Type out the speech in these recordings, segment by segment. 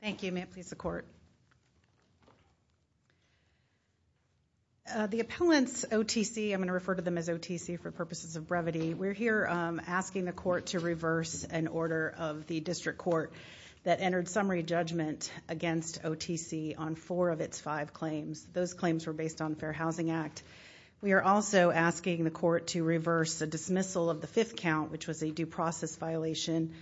Thank you. May it please the Court. The appellants, OTC, I'm going to refer to them as OTC for purposes of brevity. We're here asking the Court to reverse an order of the District Court that entered summary judgment against OTC on four of its five claims. Those claims were based on the Fair Housing Act. We are also asking the Court to reverse a dismissal of the fifth count, which was a due process violation,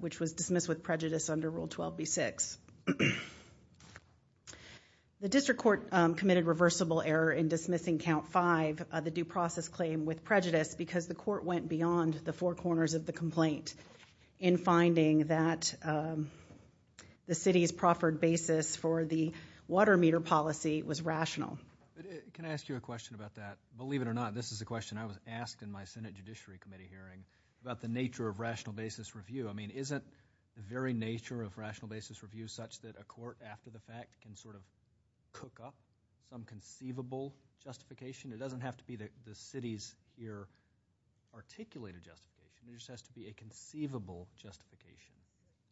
which was dismissed with prejudice under Rule 12b-6. The District Court committed reversible error in dismissing count five, the due process claim with prejudice, because the Court went beyond the four corners of the complaint in finding that the City's proffered basis for the water meter policy was rational. Can I ask you a question about that? Believe it or not, this is a question I was asked in my Senate Judiciary Committee hearing about the nature of rational basis review. I mean, isn't the very nature of rational basis review such that a Court, after the fact, can sort of cook up some conceivable justification? It doesn't have to be the City's ear articulated justification. It just has to be a conceivable justification.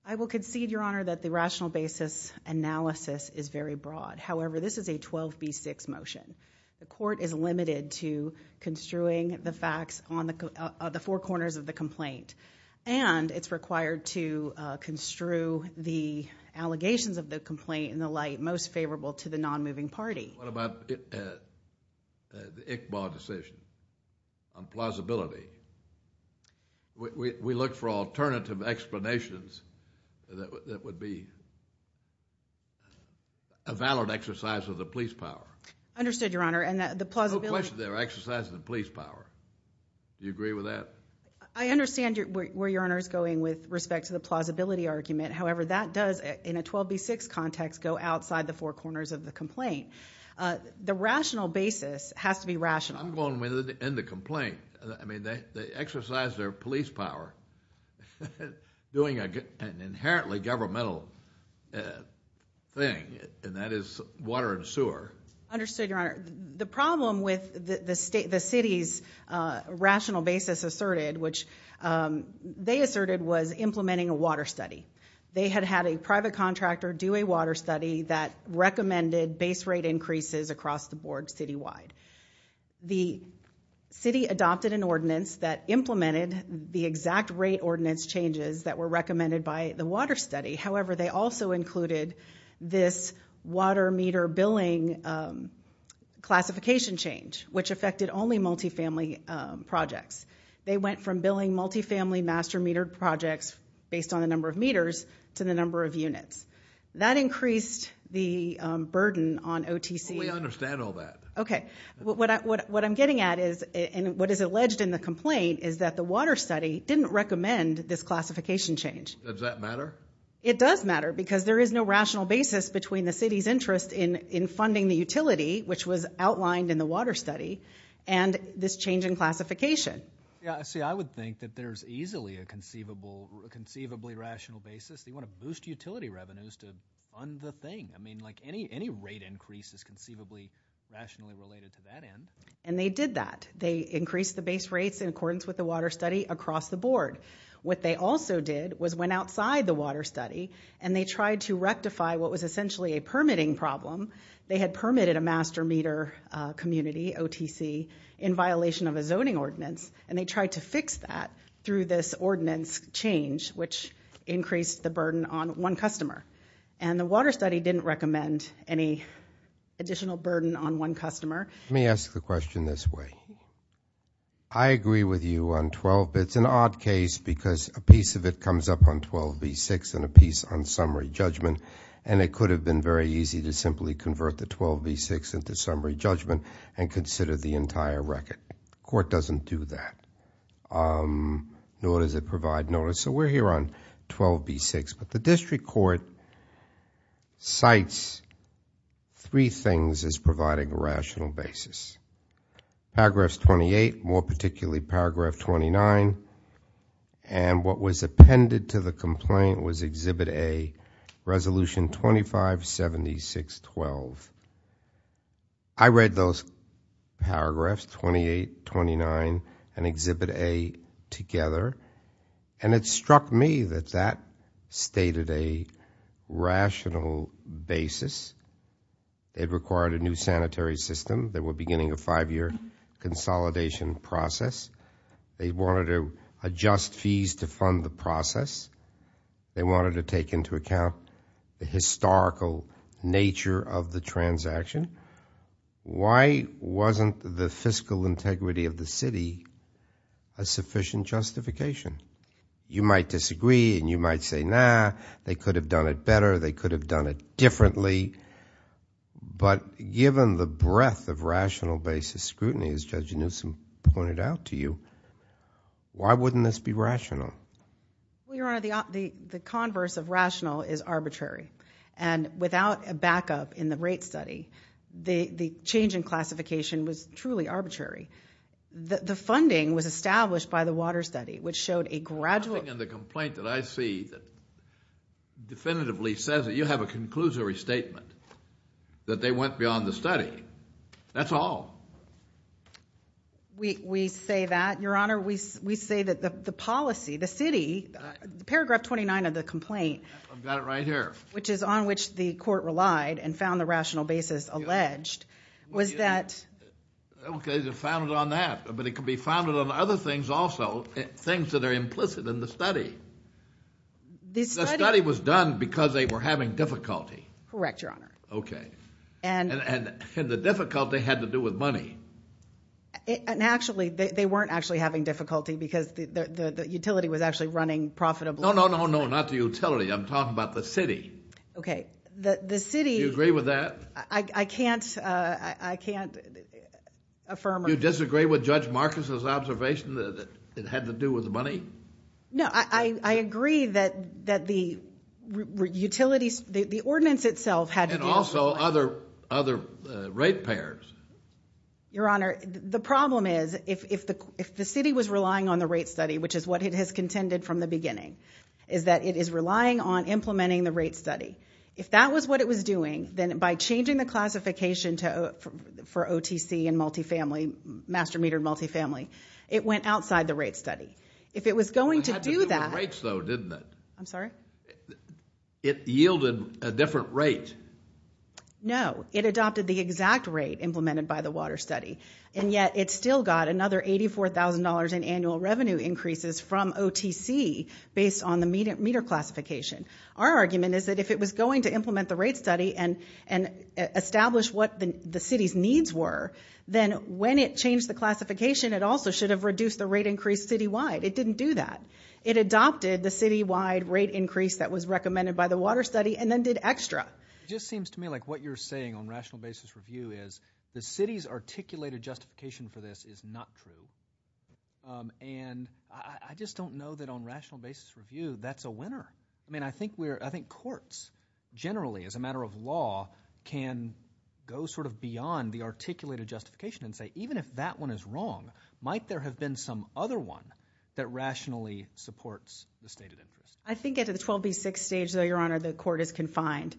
I will concede, Your Honor, that the rational basis analysis is very broad. However, this is a 12b-6 motion. The Court is limited to construing the facts on the four corners of the complaint, and it's required to construe the allegations of the complaint in the light most favorable to the non-moving party. What about the ICBA decision on plausibility? We look for alternative explanations that would be a valid exercise of the police power. Understood, Your Honor. No question they're exercising the police power. Do you agree with that? I understand where Your Honor is going with respect to the plausibility argument. However, that does, in a 12b-6 context, go outside the four corners of the complaint. The rational basis has to be rational. I'm going with it in the complaint. They exercise their police power doing an inherently governmental thing, and that is water and sewer. Understood, Your Honor. The problem with the City's rational basis asserted, which they asserted was implementing a water study. They had had a private contractor do a water study that recommended base rate increases across the board citywide. The City adopted an ordinance that implemented the exact rate ordinance changes that were recommended by the water study. However, they also included this water meter billing classification change, which affected only multifamily projects. They went from billing multifamily master metered projects based on the number of meters to the number of units. That increased the burden on OTC. We understand all that. What I'm getting at is, and what is alleged in the complaint, is that the water study didn't recommend this classification change. Does that matter? It does matter because there is no rational basis between the City's interest in funding the utility, which was outlined in the water study, and this change in classification. I would think that there's easily a conceivably rational basis. They want to boost utility revenues to fund the thing. Any rate increase is conceivably rationally related to that end. And they did that. They increased the base rates in accordance with the water study across the board. What they also did was went outside the water study and they tried to rectify what was essentially a permitting problem. They had permitted a master meter community, OTC, in violation of a zoning ordinance, and they tried to fix that through this ordinance change, which increased the burden on one customer. And the water study didn't recommend any additional burden on one customer. Let me ask the question this way. I agree with you on 12B. It's an odd case because a piece of it comes up on 12B6 and a piece on summary judgment, and it could have been very easy to simply convert the 12B6 into summary judgment and consider the entire record. The court doesn't do that, nor does it provide notice. So we're here on 12B6. But the district court cites three things as providing a rational basis. Paragraphs 28, more particularly paragraph 29, and what was appended to the complaint was Exhibit A, Resolution 2576. I read those paragraphs, 28, 29, and Exhibit A together, and it struck me that that stated a rational basis. It required a new sanitary system. They were beginning a five-year consolidation process. They wanted to adjust fees to fund the process. They wanted to take into account the historical nature of the transaction. Why wasn't the fiscal integrity of the city a sufficient justification? You might disagree, and you might say, nah, they could have done it better. They could have done it differently. But given the breadth of rational basis scrutiny, as Judge Newsom pointed out to you, why wouldn't this be rational? Well, Your Honor, the converse of rational is arbitrary. And without a backup in the rate study, the change in classification was truly arbitrary. The funding was established by the water study, which showed a gradual Nothing in the complaint that I see that definitively says that you have a conclusory statement, that they went beyond the study. That's all. We say that, Your Honor. We say that the policy, the city, paragraph 29 of the complaint I've got it right here. Which is on which the court relied and found the rational basis alleged was that Okay, they found it on that. But it could be found on other things also, things that are implicit in the study. The study was done because they were having difficulty. Correct, Your Honor. Okay. And the difficulty had to do with money. And actually, they weren't actually having difficulty because the utility was actually running profitably. No, no, no, no, not the utility. I'm talking about the city. Okay. The city Do you agree with that? I can't affirm or Do you disagree with Judge Marcus' observation that it had to do with money? No, I agree that the utility, the ordinance itself had to do with money. And also other rate payers. Your Honor, the problem is if the city was relying on the rate study, which is what it has contended from the beginning, is that it is relying on implementing the rate study. If that was what it was doing, then by changing the classification for OTC and multifamily, master metered multifamily, it went outside the rate study. If it was going to do that It had to do with rates though, didn't it? I'm sorry? It yielded a different rate. No, it adopted the exact rate implemented by the water study. And yet it still got another $84,000 in annual revenue increases from OTC based on the meter classification. Our argument is that if it was going to implement the rate study and establish what the city's rates were, then when it changed the classification, it also should have reduced the rate increase citywide. It didn't do that. It adopted the citywide rate increase that was recommended by the water study and then did extra. It just seems to me like what you're saying on rational basis review is the city's articulated justification for this is not true. And I just don't know that on rational basis review, that's a winner. I mean, I think courts generally as a matter of law can go sort of beyond the articulated justification and say, even if that one is wrong, might there have been some other one that rationally supports the stated interest? I think at the 12B6 stage though, Your Honor, the court is confined.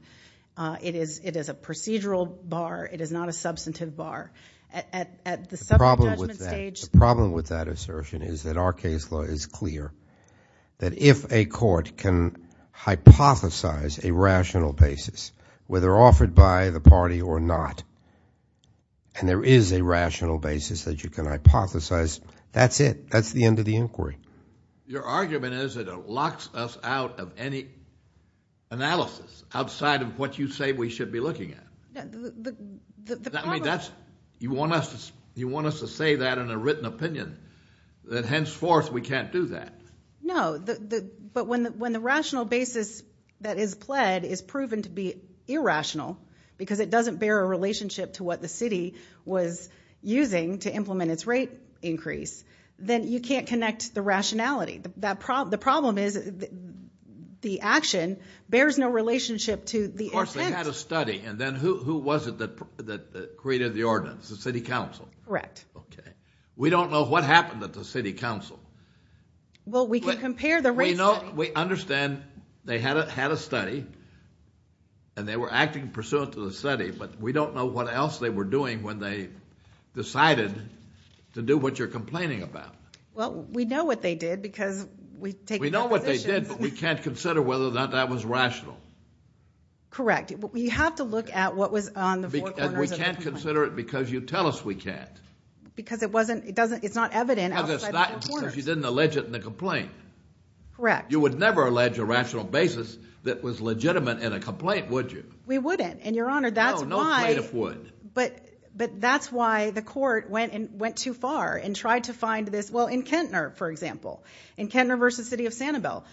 It is a procedural bar. It is not a substantive bar. At the subject judgment stage The problem with that assertion is that our case law is clear that if a court can hypothesize a rational basis, whether offered by the party or not, and there is a rational basis that you can hypothesize, that's it. That's the end of the inquiry. Your argument is that it locks us out of any analysis outside of what you say we should be looking at. I mean, you want us to say that in a written opinion, that henceforth we can't do that. No, but when the rational basis that is pled is proven to be irrational because it doesn't bear a relationship to what the city was using to implement its rate increase, then you can't connect the rationality. The problem is the action bears no relationship to the intent. Well, they had a study, and then who was it that created the ordinance? The city council? Correct. Okay. We don't know what happened at the city council. Well, we can compare the rate study. We know, we understand they had a study, and they were acting pursuant to the study, but we don't know what else they were doing when they decided to do what you're complaining about. Well, we know what they did because we've taken their positions. We know what they did, but we can't consider whether or not that was rational. Correct. You have to look at what was on the four corners of the complaint. And we can't consider it because you tell us we can't. Because it's not evident outside the four corners. Because you didn't allege it in the complaint. Correct. You would never allege a rational basis that was legitimate in a complaint, would you? We wouldn't, and Your Honor, that's why- No, no plaintiff would. But that's why the court went too far and tried to find this. Well, in Kentner, for example, in Kentner v. City of Sanibel,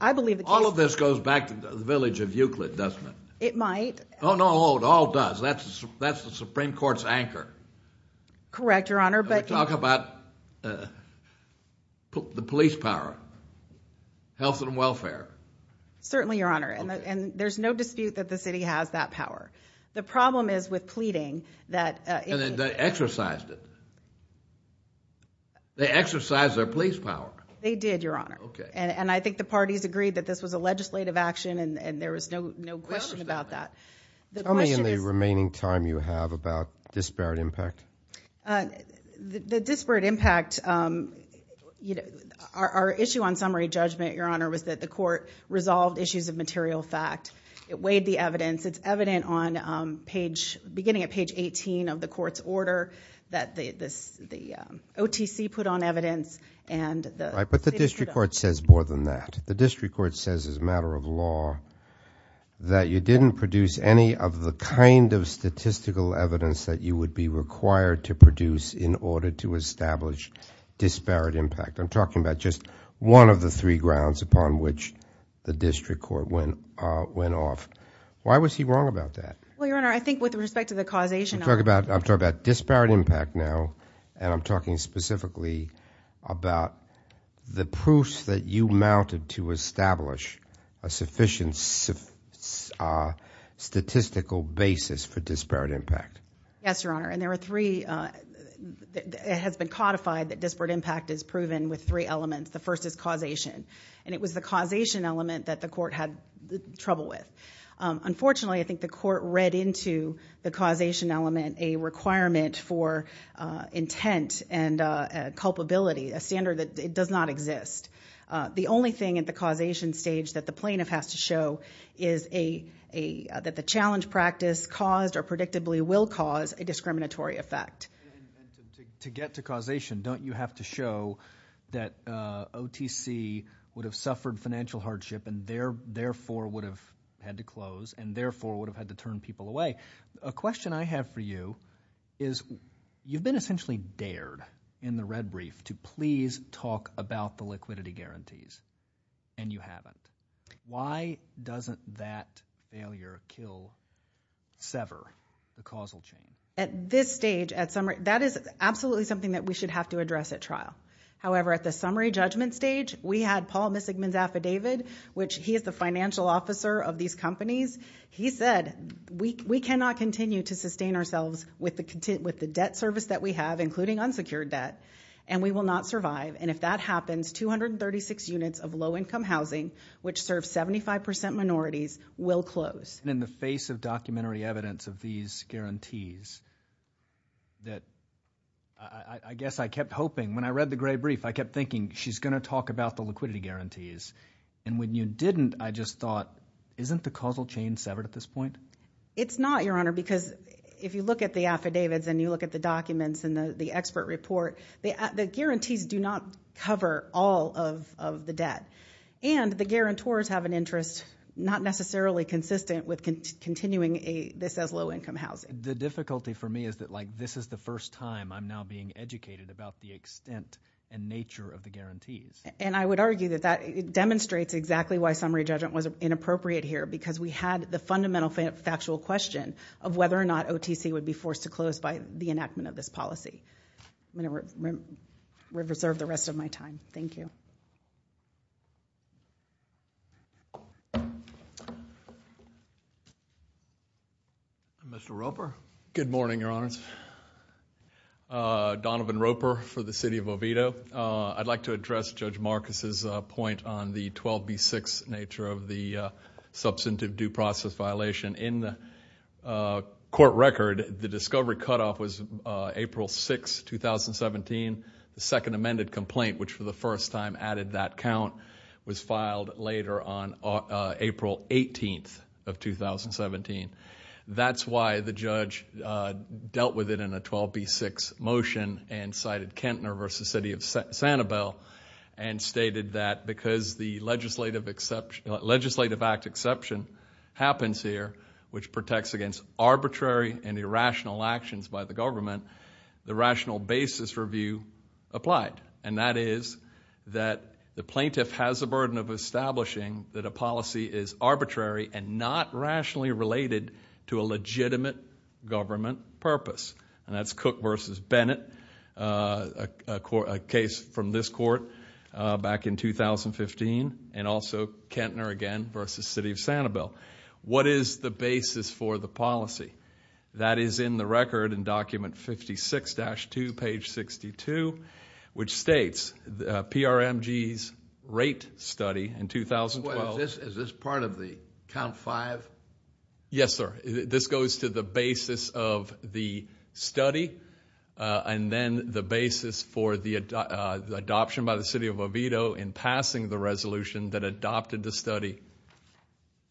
I believe the case- All of this goes back to the village of Euclid, doesn't it? It might. Oh, no, it all does. That's the Supreme Court's anchor. Correct, Your Honor, but- And we talk about the police power, health and welfare. Certainly, Your Honor, and there's no dispute that the city has that power. The problem is with pleading that- And they exercised it. They exercised their police power. They did, Your Honor. Okay. And I think the parties agreed that this was a legislative action and there was no question about that. Tell me in the remaining time you have about disparate impact. The disparate impact, our issue on summary judgment, Your Honor, was that the court resolved issues of material fact. It weighed the evidence. It's evident on beginning at page 18 of the court's order that the OTC put on evidence and the- But the district court says more than that. The district court says as a matter of law that you didn't produce any of the kind of statistical evidence that you would be required to produce in order to establish disparate impact. I'm talking about just one of the three grounds upon which the district court went off. Why was he wrong about that? Well, Your Honor, I think with respect to the causation- I'm talking about disparate impact now, and I'm talking specifically about the proofs that you mounted to establish a sufficient statistical basis for disparate impact. Yes, Your Honor. And there are three- It has been codified that disparate impact is proven with three elements. The first is causation. And it was the causation element that the court had trouble with. Unfortunately, I think the court read into the causation element a requirement for intent and culpability, a standard that does not exist. The only thing at the causation stage that the plaintiff has to show is that the challenge practice caused or predictably will cause a discriminatory effect. To get to causation, don't you have to show that OTC would have suffered financial hardship and therefore would have had to close and therefore would have had to turn people away? A question I have for you is, you've been essentially dared in the red brief to please talk about the liquidity guarantees, and you haven't. Why doesn't that failure kill, sever the causal chain? At this stage, that is absolutely something that we should have to address at trial. However, at the summary judgment stage, we had Paul Missingman's affidavit, which he is the financial officer of these companies. He said, we cannot continue to sustain ourselves with the debt service that we have, including unsecured debt, and we will not survive. And if that happens, 236 units of low-income housing, which serves 75% minorities, will close. In the face of documentary evidence of these guarantees, that I guess I kept hoping, when I read the gray brief, I kept thinking, she's going to talk about the liquidity guarantees. And when you didn't, I just thought, isn't the causal chain severed at this point? It's not, Your Honor, because if you look at the affidavits and you look at the documents and the expert report, the guarantees do not cover all of the debt. And the guarantors have an interest not necessarily consistent with continuing this as low-income housing. The difficulty for me is that this is the first time I'm now being educated about the extent and nature of the guarantees. And I would argue that that demonstrates exactly why summary judgment was inappropriate here, because we had the fundamental factual question of whether or not OTC would be forced to close by the enactment of this policy. I'm going to reserve the rest of my time. Thank you. Mr. Roper? Good morning, Your Honors. Donovan Roper for the City of Oviedo. I'd like to address Judge Marcus' point on the 12B6 nature of the substantive due process violation. In the court record, the discovery cutoff was April 6, 2017. The second amended complaint, which for the first time added that count, was filed later on April 18th of 2017. That's why the judge dealt with it in a 12B6 motion and cited Kentner v. City of Sanibel and stated that because the Legislative Act exception happens here, which protects against arbitrary and irrational actions by the government, the rational basis review applied. of establishing that a policy is arbitrary and not rationally related to a legitimate government purpose. And that's Cook v. Bennett, a case from this court back in 2015 and also Kentner again v. City of Sanibel. What is the basis for the policy? That is in the record in document 56-2, page 62, which states PRMG's rate study in 2012. Is this part of the count 5? Yes, sir. This goes to the basis of the study and then the basis for the adoption by the City of Oviedo in passing the resolution that adopted the study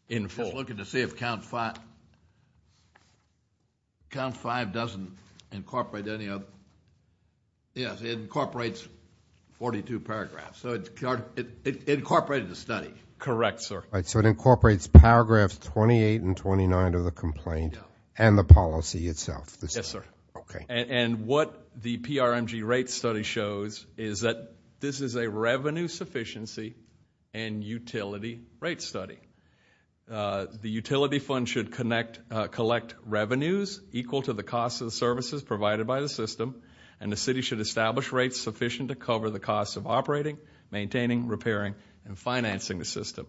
in full. I'm just looking to see if count 5 doesn't incorporate any of... Yes, it incorporates 42 paragraphs. So it incorporated the study. Correct, sir. So it incorporates paragraphs 28 and 29 of the complaint and the policy itself. Yes, sir. And what the PRMG rate study shows is that this is a revenue sufficiency and utility rate study. The utility fund should collect revenues equal to the cost of services provided by the system and the city should establish rates sufficient to cover the cost of operating, maintaining, repairing, and financing the system.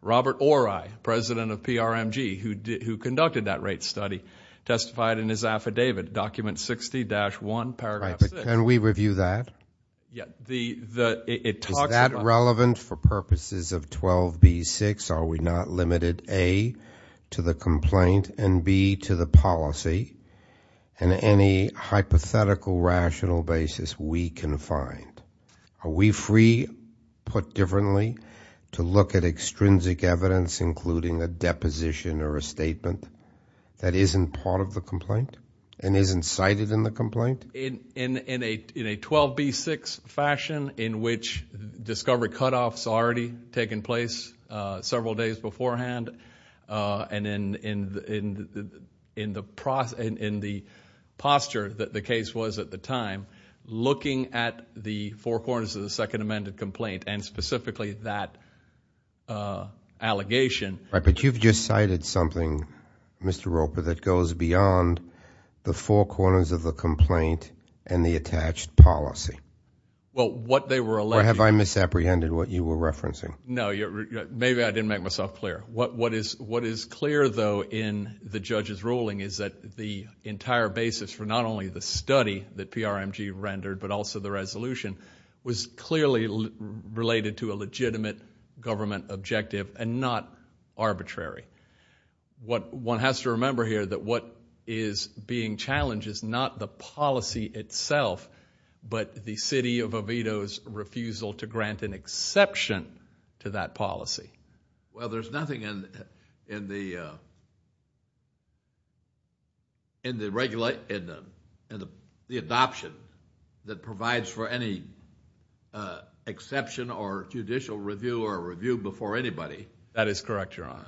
Robert Ori, president of PRMG, who conducted that rate study, testified in his affidavit, document 60-1, paragraph 6. Right, but can we review that? Is that relevant for purposes of 12b-6? Are we not limited, A, to the complaint and, B, to the policy? And any hypothetical, rational basis we can find. Are we free, put differently, to look at extrinsic evidence, including a deposition or a statement that isn't part of the complaint and isn't cited in the complaint? In a 12b-6 fashion in which discovery cutoffs already taken place several days beforehand and in the posture that the case was at the time, looking at the four corners of the second amended complaint and specifically that allegation... Right, but you've just cited something, Mr. Roper, that goes beyond the four corners of the complaint and the attached policy. Well, what they were alleging... Or have I misapprehended what you were referencing? No, maybe I didn't make myself clear. What is clear, though, in the judge's ruling is that the entire basis for not only the study that PRMG rendered but also the resolution was clearly related to a legitimate government objective and not arbitrary. One has to remember here that what is being challenged is not the policy itself but the city of Oviedo's refusal to grant an exception to that policy. Well, there's nothing in the adoption that provides for any exception or judicial review or review before anybody. That is correct, Your Honor.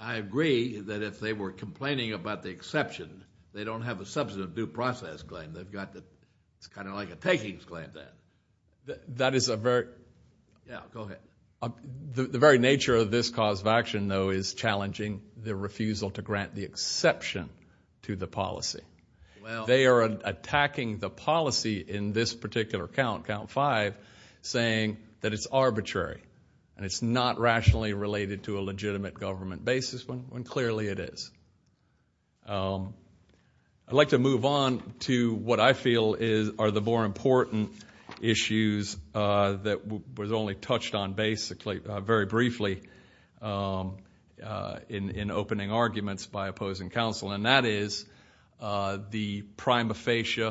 I agree that if they were complaining about the exception, they don't have a substantive due process claim. It's kind of like a takings claim then. That is a very... Yeah, go ahead. The very nature of this cause of action, though, is challenging the refusal to grant the exception to the policy. They are attacking the policy in this particular count, count five, saying that it's arbitrary and it's not rationally related to a legitimate government basis when clearly it is. I'd like to move on to what I feel are the more important issues that was only touched on basically, very briefly in opening arguments by opposing counsel and that is the prima facie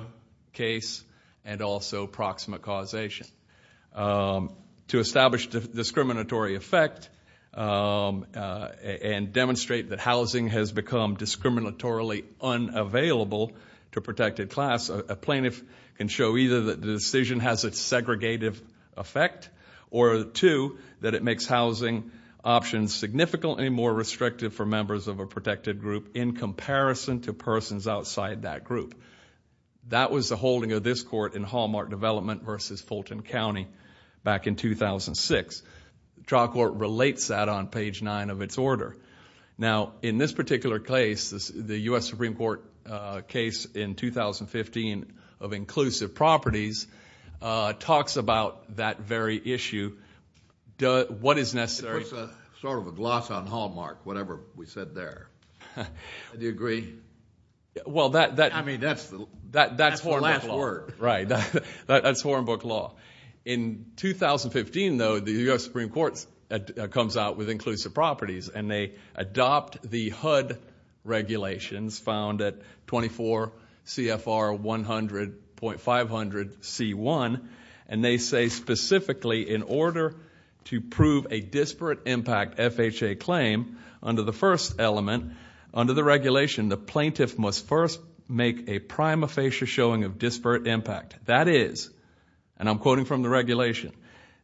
case and also proximate causation. To establish discriminatory effect and demonstrate that housing has become discriminatorily unavailable to protected class, a plaintiff can show either that the decision has a segregative effect or two, that it makes housing options significantly more restrictive for members of a protected group in comparison to persons outside that group. That was the holding of this court in Hallmark Development versus Fulton County back in 2006. Trial Court relates that on page nine of its order. Now, in this particular case, the U.S. Supreme Court case in 2015 of inclusive properties talks about that very issue. What is necessary? It puts sort of a gloss on Hallmark whatever we said there. Do you agree? I mean, that's the last word. That's Horenboek Law. That's Horenboek Law. In 2015, though, the U.S. Supreme Court comes out with inclusive properties and they adopt the HUD regulations found at 24 CFR 100.500 C1 and they say specifically in order to prove a disparate impact FHA claim under the first element under the regulation the plaintiff must first make a prima facie showing of disparate impact. That is, and I'm quoting from the regulation,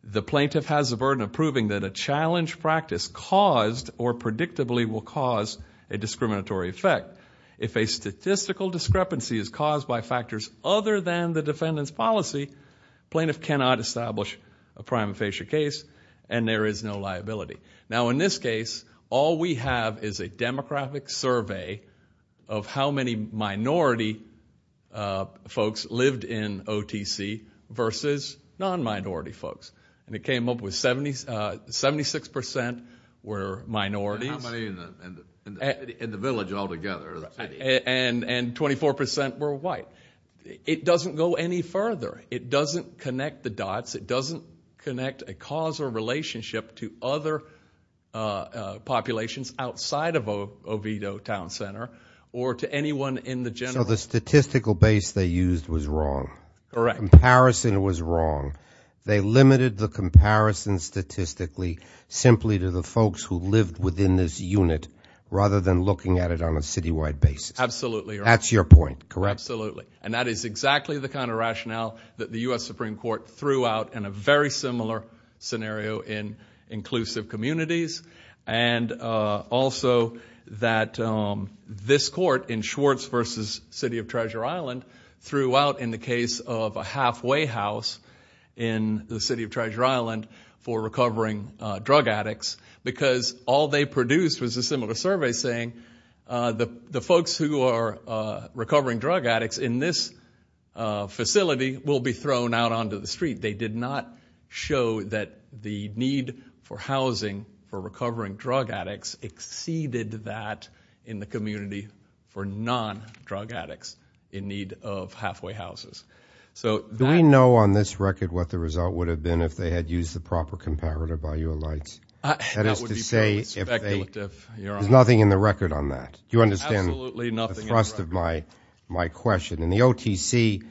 the plaintiff has a burden of proving that a challenge practice caused or predictably will cause a discriminatory effect. If a statistical discrepancy is caused by factors other than the defendant's policy plaintiff cannot establish a prima facie case and there is no liability. Now in this case, all we have is a demographic survey of how many minority folks lived in OTC versus non-minority folks and it came up with 76% were minorities and how many in the village all together? And 24% were white. It doesn't go any further. It doesn't connect the dots. It doesn't connect a cause or relationship to other populations outside of Oviedo Town Center or to anyone in the general. So the statistical base they used was wrong. Correct. Comparison was wrong. They limited the comparison statistically simply to the folks who lived within this unit rather than looking at it on a citywide basis. That's your point. And that is exactly the kind of rationale that the U.S. Supreme Court threw out in a very similar scenario in inclusive communities and also that this court in Schwartz versus City of Treasure Island threw out in the case of a halfway house in the City of Treasure Island for recovering drug addicts because all they produced was a similar survey saying the folks who are recovering drug addicts in this facility will be thrown out onto the street. They did not show that the need for housing for recovering drug addicts exceeded that in the community for non-drug addicts in need of halfway houses. Do we know on this record what the result would have been if they had used the proper comparative by your lights? That is to say there's nothing in the record on that. Do you understand the thrust of my question? In the OTC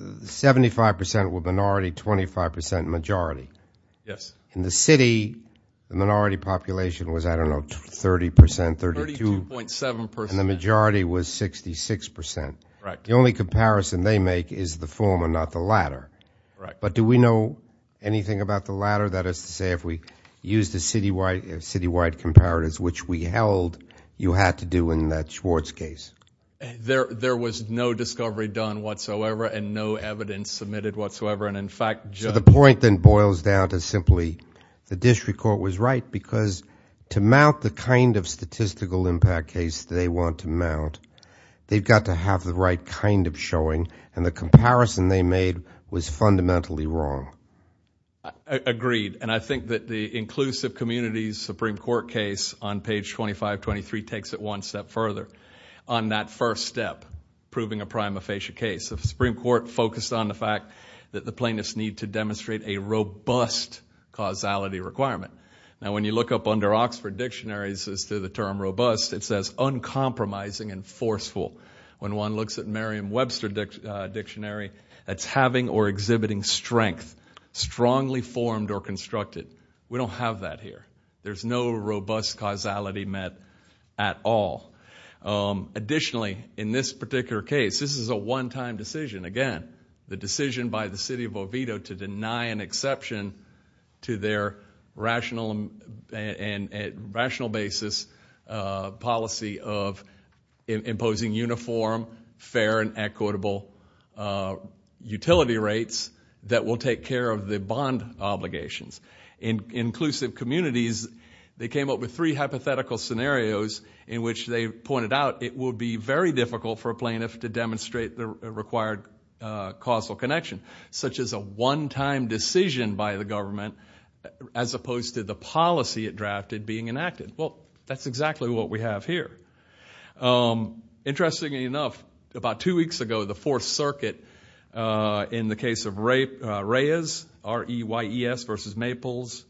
75% were minority 25% majority. In the city, the minority population was, I don't know, 30%, 32% and the majority was 66%. The only comparison they make is the former, not the latter. Do we know anything about the latter? That is to say if we used the citywide comparatives which we held, you had to do in that Schwartz case? There was no discovery done whatsoever and no evidence submitted whatsoever. The point then boils down to simply the district court was right because to mount the kind of statistical impact case they want to mount, they've got to have the right kind of showing and the comparison they made was fundamentally wrong. Agreed and I think that the inclusive communities Supreme Court case on page 2523 takes it one step further on that first step proving a prima facie case. The Supreme Court focused on the fact that the plaintiffs need to demonstrate a robust causality requirement. Now when you look up under Oxford dictionaries as to the term robust, it says uncompromising and forceful. When one looks at Merriam-Webster dictionary it's having or exhibiting strength strongly formed or constructed. We don't have that here. There's no robust causality met at all. Additionally, in this particular case, this is a one-time decision. Again, the decision by the city of Oviedo to deny an exception to their rational basis policy of imposing uniform fair and equitable utility rates that will take care of the bond obligations. In inclusive communities, they came up with three hypothetical scenarios in which they pointed out it would be very difficult for a plaintiff to demonstrate the required causal connection such as a one-time decision by the government as opposed to the policy it has. That's exactly what we have here. Interestingly enough, about two weeks ago, the Fourth Circuit in the case of REYES versus WAPL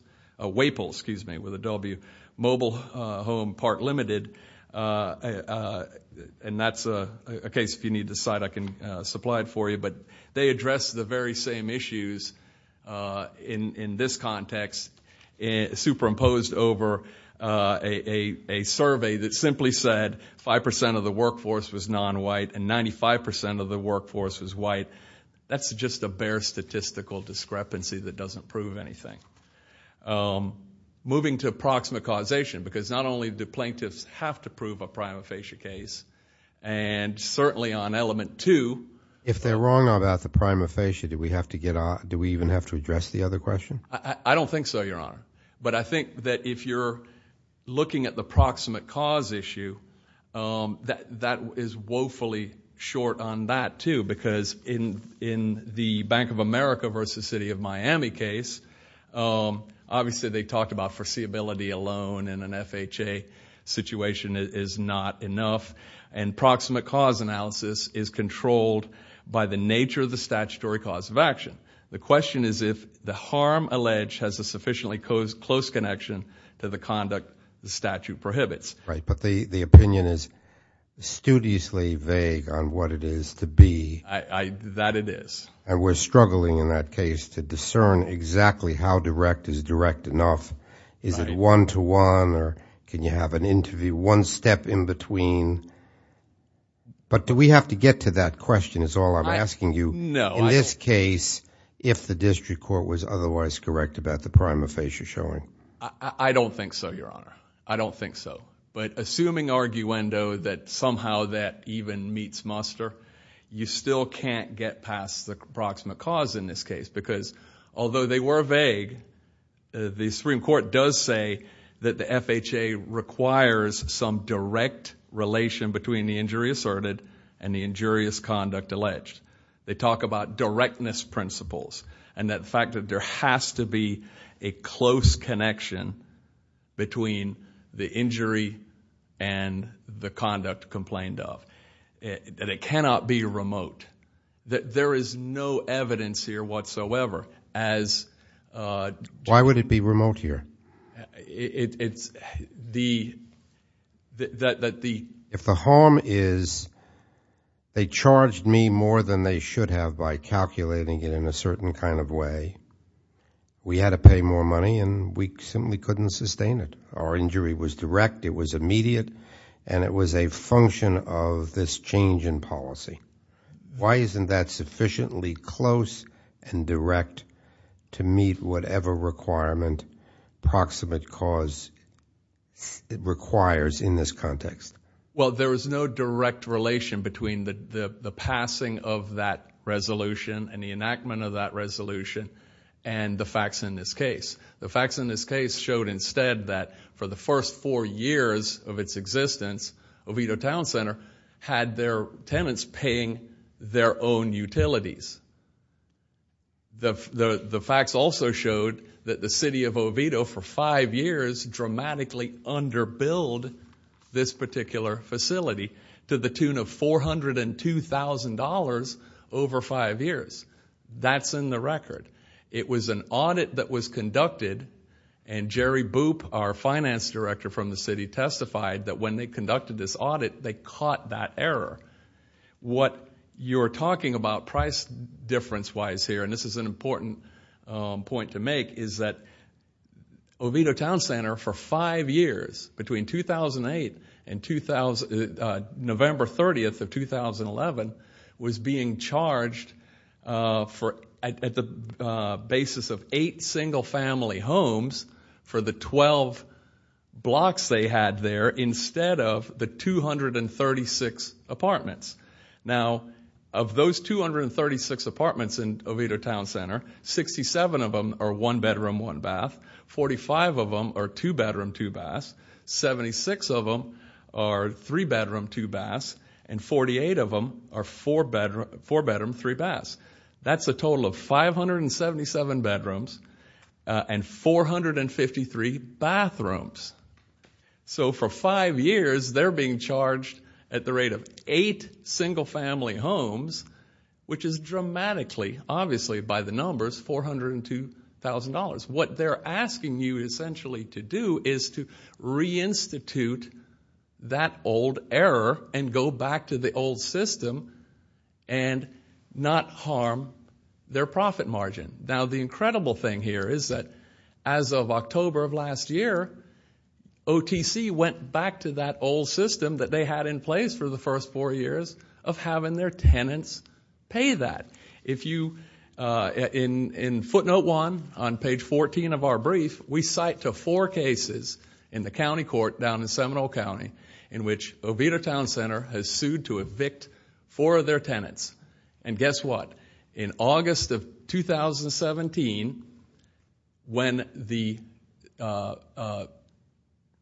Mobile Home Part Limited and that's a case if you need the site I can supply it for you. They addressed the very same issues in this context superimposed over a survey that simply said 5% of the workforce was non-white and 95% of the workforce was white. That's just a bare statistical discrepancy that doesn't prove anything. Moving to approximate causation because not only do plaintiffs have to prove a prima facie case and certainly on element two If they're wrong about the prima facie do we even have to address the other question? I don't think so your honor but I think that if you're looking at the proximate cause issue that is woefully short on that too because in the Bank of America versus City of Miami case obviously they talked about foreseeability alone and an FHA situation is not enough and proximate cause analysis is controlled by the nature of the statutory cause of action. The question is if the harm alleged has a sufficiently close connection to the conduct the statute prohibits. But the opinion is studiously vague on what it is to be. And we're struggling in that case to discern exactly how direct is direct enough is it one to one or can you have an interview one step in between but do we have to get to that question is all I'm asking you in this case if the district court was otherwise correct about the prima facie showing? I don't think so your honor. I don't think so but assuming arguendo that somehow that even meets muster you still can't get past the proximate cause in this case because although they were vague the Supreme Court does say that the FHA requires some direct relation between the injury asserted and the injurious conduct alleged they talk about directness principles and that fact that there has to be a close connection between the injury and the conduct complained of and it cannot be remote. There is no evidence here whatsoever as why would it be remote here it's the if the harm is they charged me more than they should have by calculating it in a certain kind of way we had to pay more money and we simply couldn't sustain it. Our injury was direct, it was immediate and it was a function of this change in policy why isn't that sufficiently close and direct to meet whatever requirement proximate cause requires in this context? Well there is no direct relation between the passing of that resolution and the enactment of that resolution and the facts in this case. The facts in this case showed instead that for the first four years of its existence Oviedo Town Center had their tenants paying their own utilities the facts also showed that the city of Oviedo automatically underbilled this particular facility to the tune of $402,000 over five years. That's in the record it was an audit that was conducted and Jerry Boop our finance director from the city testified that when they conducted this audit they caught that error what you are talking about price difference wise here and this is an important point to make is that Oviedo Town Center for five years between 2008 and November 30th of 2011 was being charged at the basis of eight single family homes for the twelve blocks they had there instead of the 236 apartments now of those 236 apartments in Oviedo Town Center 67 of them are one bedroom one bath 45 of them are two bedroom two baths 76 of them are three bedroom two baths and 48 of them are four bedroom three baths that's a total of 577 bedrooms and 453 bathrooms so for five years they are being charged at the rate of eight single family homes which is dramatically obviously by the numbers $402,000 what they are asking you essentially to do is to reinstitute that old error and go back to the old system and not harm their profit margin now the incredible thing here is that as of October of last year OTC went back to that old system that they had in place for the first four years of having their tenants pay that in footnote 1 on page 14 of our brief we cite to four cases in the county court down in Seminole County in which Oviedo Town Center has sued to evict four of their tenants and guess what in August of 2017 when the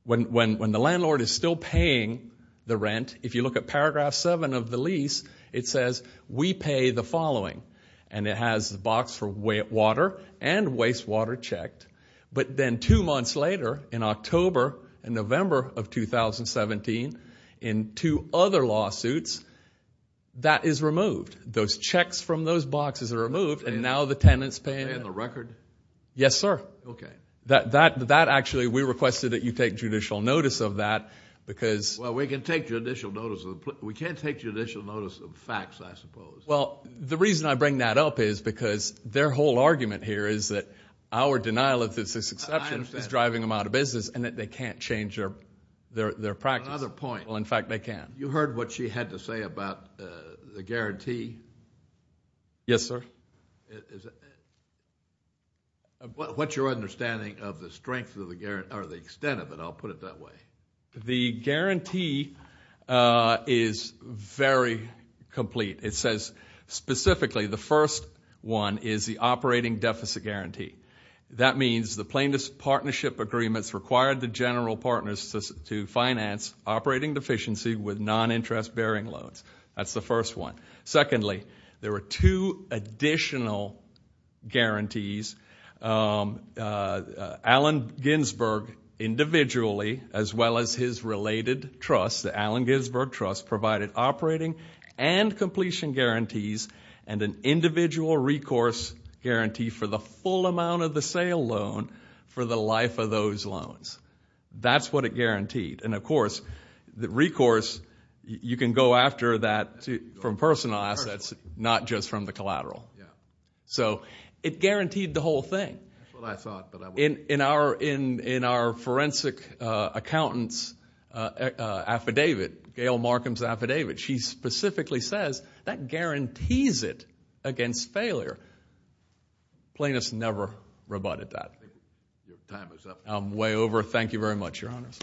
landlord is still paying the rent if you look at paragraph 7 of the lease it says we pay the following and it has the box for water and waste water checked but then two months later in October and November of 2017 in two other lawsuits that is removed those checks from those boxes are removed and now the tenants pay in the record yes sir that actually we requested that you take judicial notice of that because well we can take judicial notice we can't take judicial notice of facts I suppose well the reason I bring that up is because their whole argument here is that our denial of this exception is driving them out of business and that they can't change their practice another point well in fact they can you heard what she had to say about the guarantee yes sir what's your understanding of the strength of the guarantee or the extent of it I'll put it that way the guarantee is very complete it says specifically the first one is the operating deficit guarantee that means the plaintiff's partnership agreements required the general partners to finance operating deficiency with non interest bearing loads that's the first one secondly there were two additional guarantees Allen Ginsberg individually as well as his related trust the Allen Ginsberg trust provided operating and completion guarantees and an individual recourse guarantee for the full amount of the sale loan for the life of those loans that's what it guaranteed and of course the recourse you can go after that from personal assets not just from the collateral it guaranteed the whole thing that's what I thought in our forensic accountants affidavit Gail Markham's affidavit she specifically says that guarantees it against failure plaintiffs never rebutted that thank you very much your honors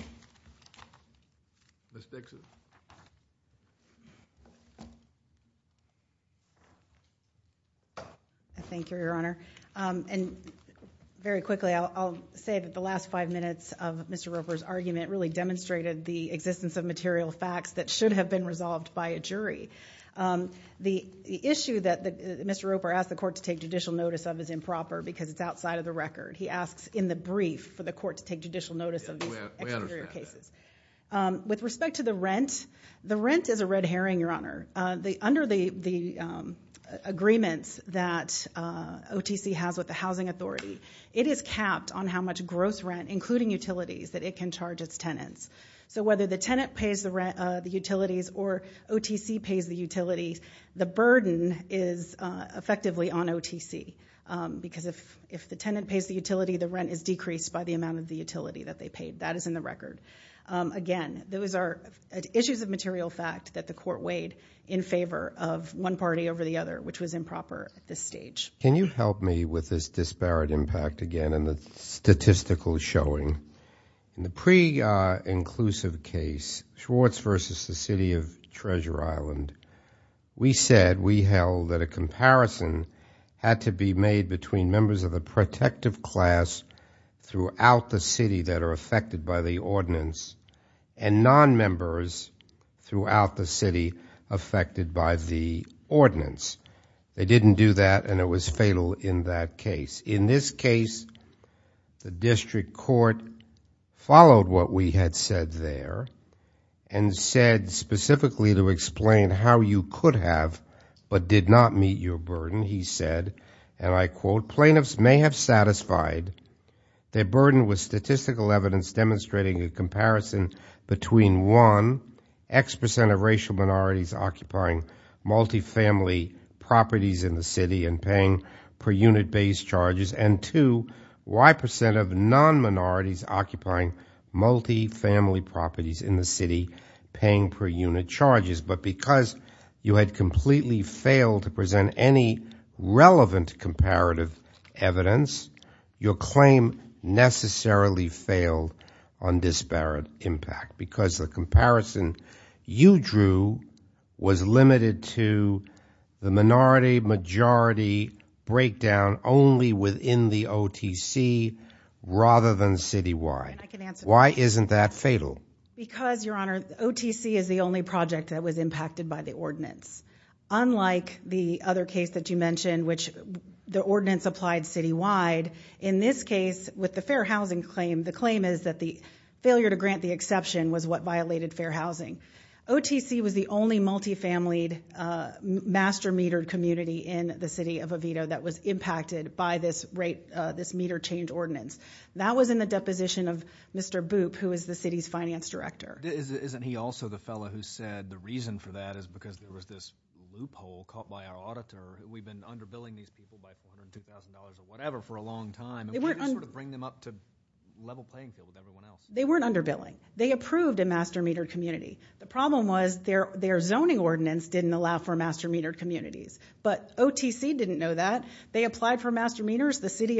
Ms. Dixon thank you your honor and very quickly I'll say that the last five minutes of Mr. Roper's argument really demonstrated the existence of material facts that should have been resolved by a jury the issue that Mr. Roper asked the court to take judicial notice of is improper because it's outside of the record he asks in the brief for the court to take judicial notice of these exterior cases with respect to the rent the rent is a the rent is a red herring your honor under the agreements that OTC has with the housing authority it is capped on how much gross rent including utilities that it can charge its tenants so whether the tenant pays the utilities or OTC pays the utilities the burden is effectively on OTC because if the tenant pays the utility the rent is decreased by the amount of the utility that they paid that is in the record again those are issues of material fact that the court weighed in favor of one party over the other which was improper at this stage can you help me with this disparate impact again and the statistical showing the pre-inclusive case Schwartz versus the city of Treasure Island we said we held that a comparison had to be made between members of the protective class throughout the city that are affected by the ordinance and non-members throughout the city affected by the ordinance they didn't do that and it was fatal in that case in this case the district court followed what we had said there and said specifically to explain how you could have but did not meet your burden he said and I quote plaintiffs may have satisfied their burden was statistical evidence demonstrating a comparison between one X percent of racial minorities occupying multifamily properties in the city and paying per unit base charges and two Y percent of non-minorities occupying multifamily properties in the city paying per unit charges but because you had completely failed to present any relevant comparative evidence your claim necessarily failed on disparate impact because the comparison you drew was limited to the minority majority breakdown only within the OTC rather than citywide. Why isn't that fatal? Because your honor OTC is the only project that was impacted by the ordinance unlike the other case that you mentioned which the ordinance applied citywide in this case with the fair housing claim the claim is that the failure to grant the exception was what violated fair housing OTC was the only multifamilied master metered community in the city of Oviedo that was impacted by this meter change ordinance. That was in the deposition of Mr. Boop who is the city's finance director. Isn't he also the fellow who said the reason for that is because there was this loophole caught by our auditor we've been underbilling these people by $402,000 or whatever for a long time to bring them up to level playing field with everyone else. They weren't underbilling they approved a master metered community the problem was their zoning ordinance didn't allow for master metered communities but OTC didn't know that they applied for master meters the city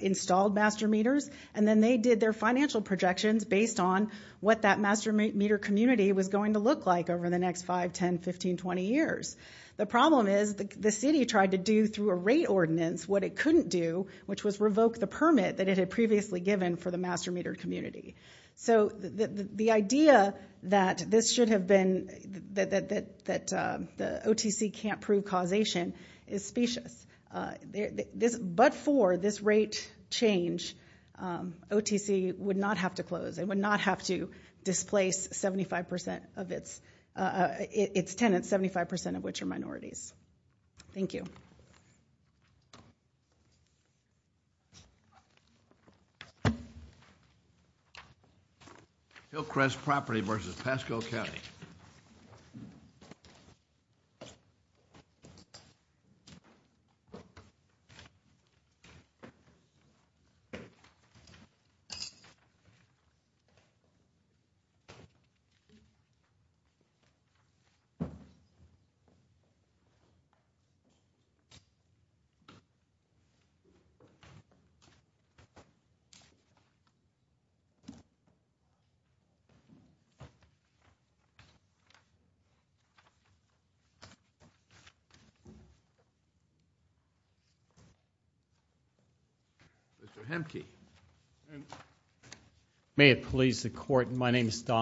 installed master meters and then they did their financial projections based on what that master meter community was going to look like over the next 5, 10, 15, 20 years the problem is the city tried to do through a rate ordinance what it couldn't do which was revoke the permit that it had previously given for the master metered community so the idea that this should have been that OTC can't prove causation is specious but for this rate change OTC would not have to close they would not have to displace 75% of its tenants, 75% of which are minorities. Thank you. Hillcrest property versus Pasco County Mr. Hemke May it please the court My name is Don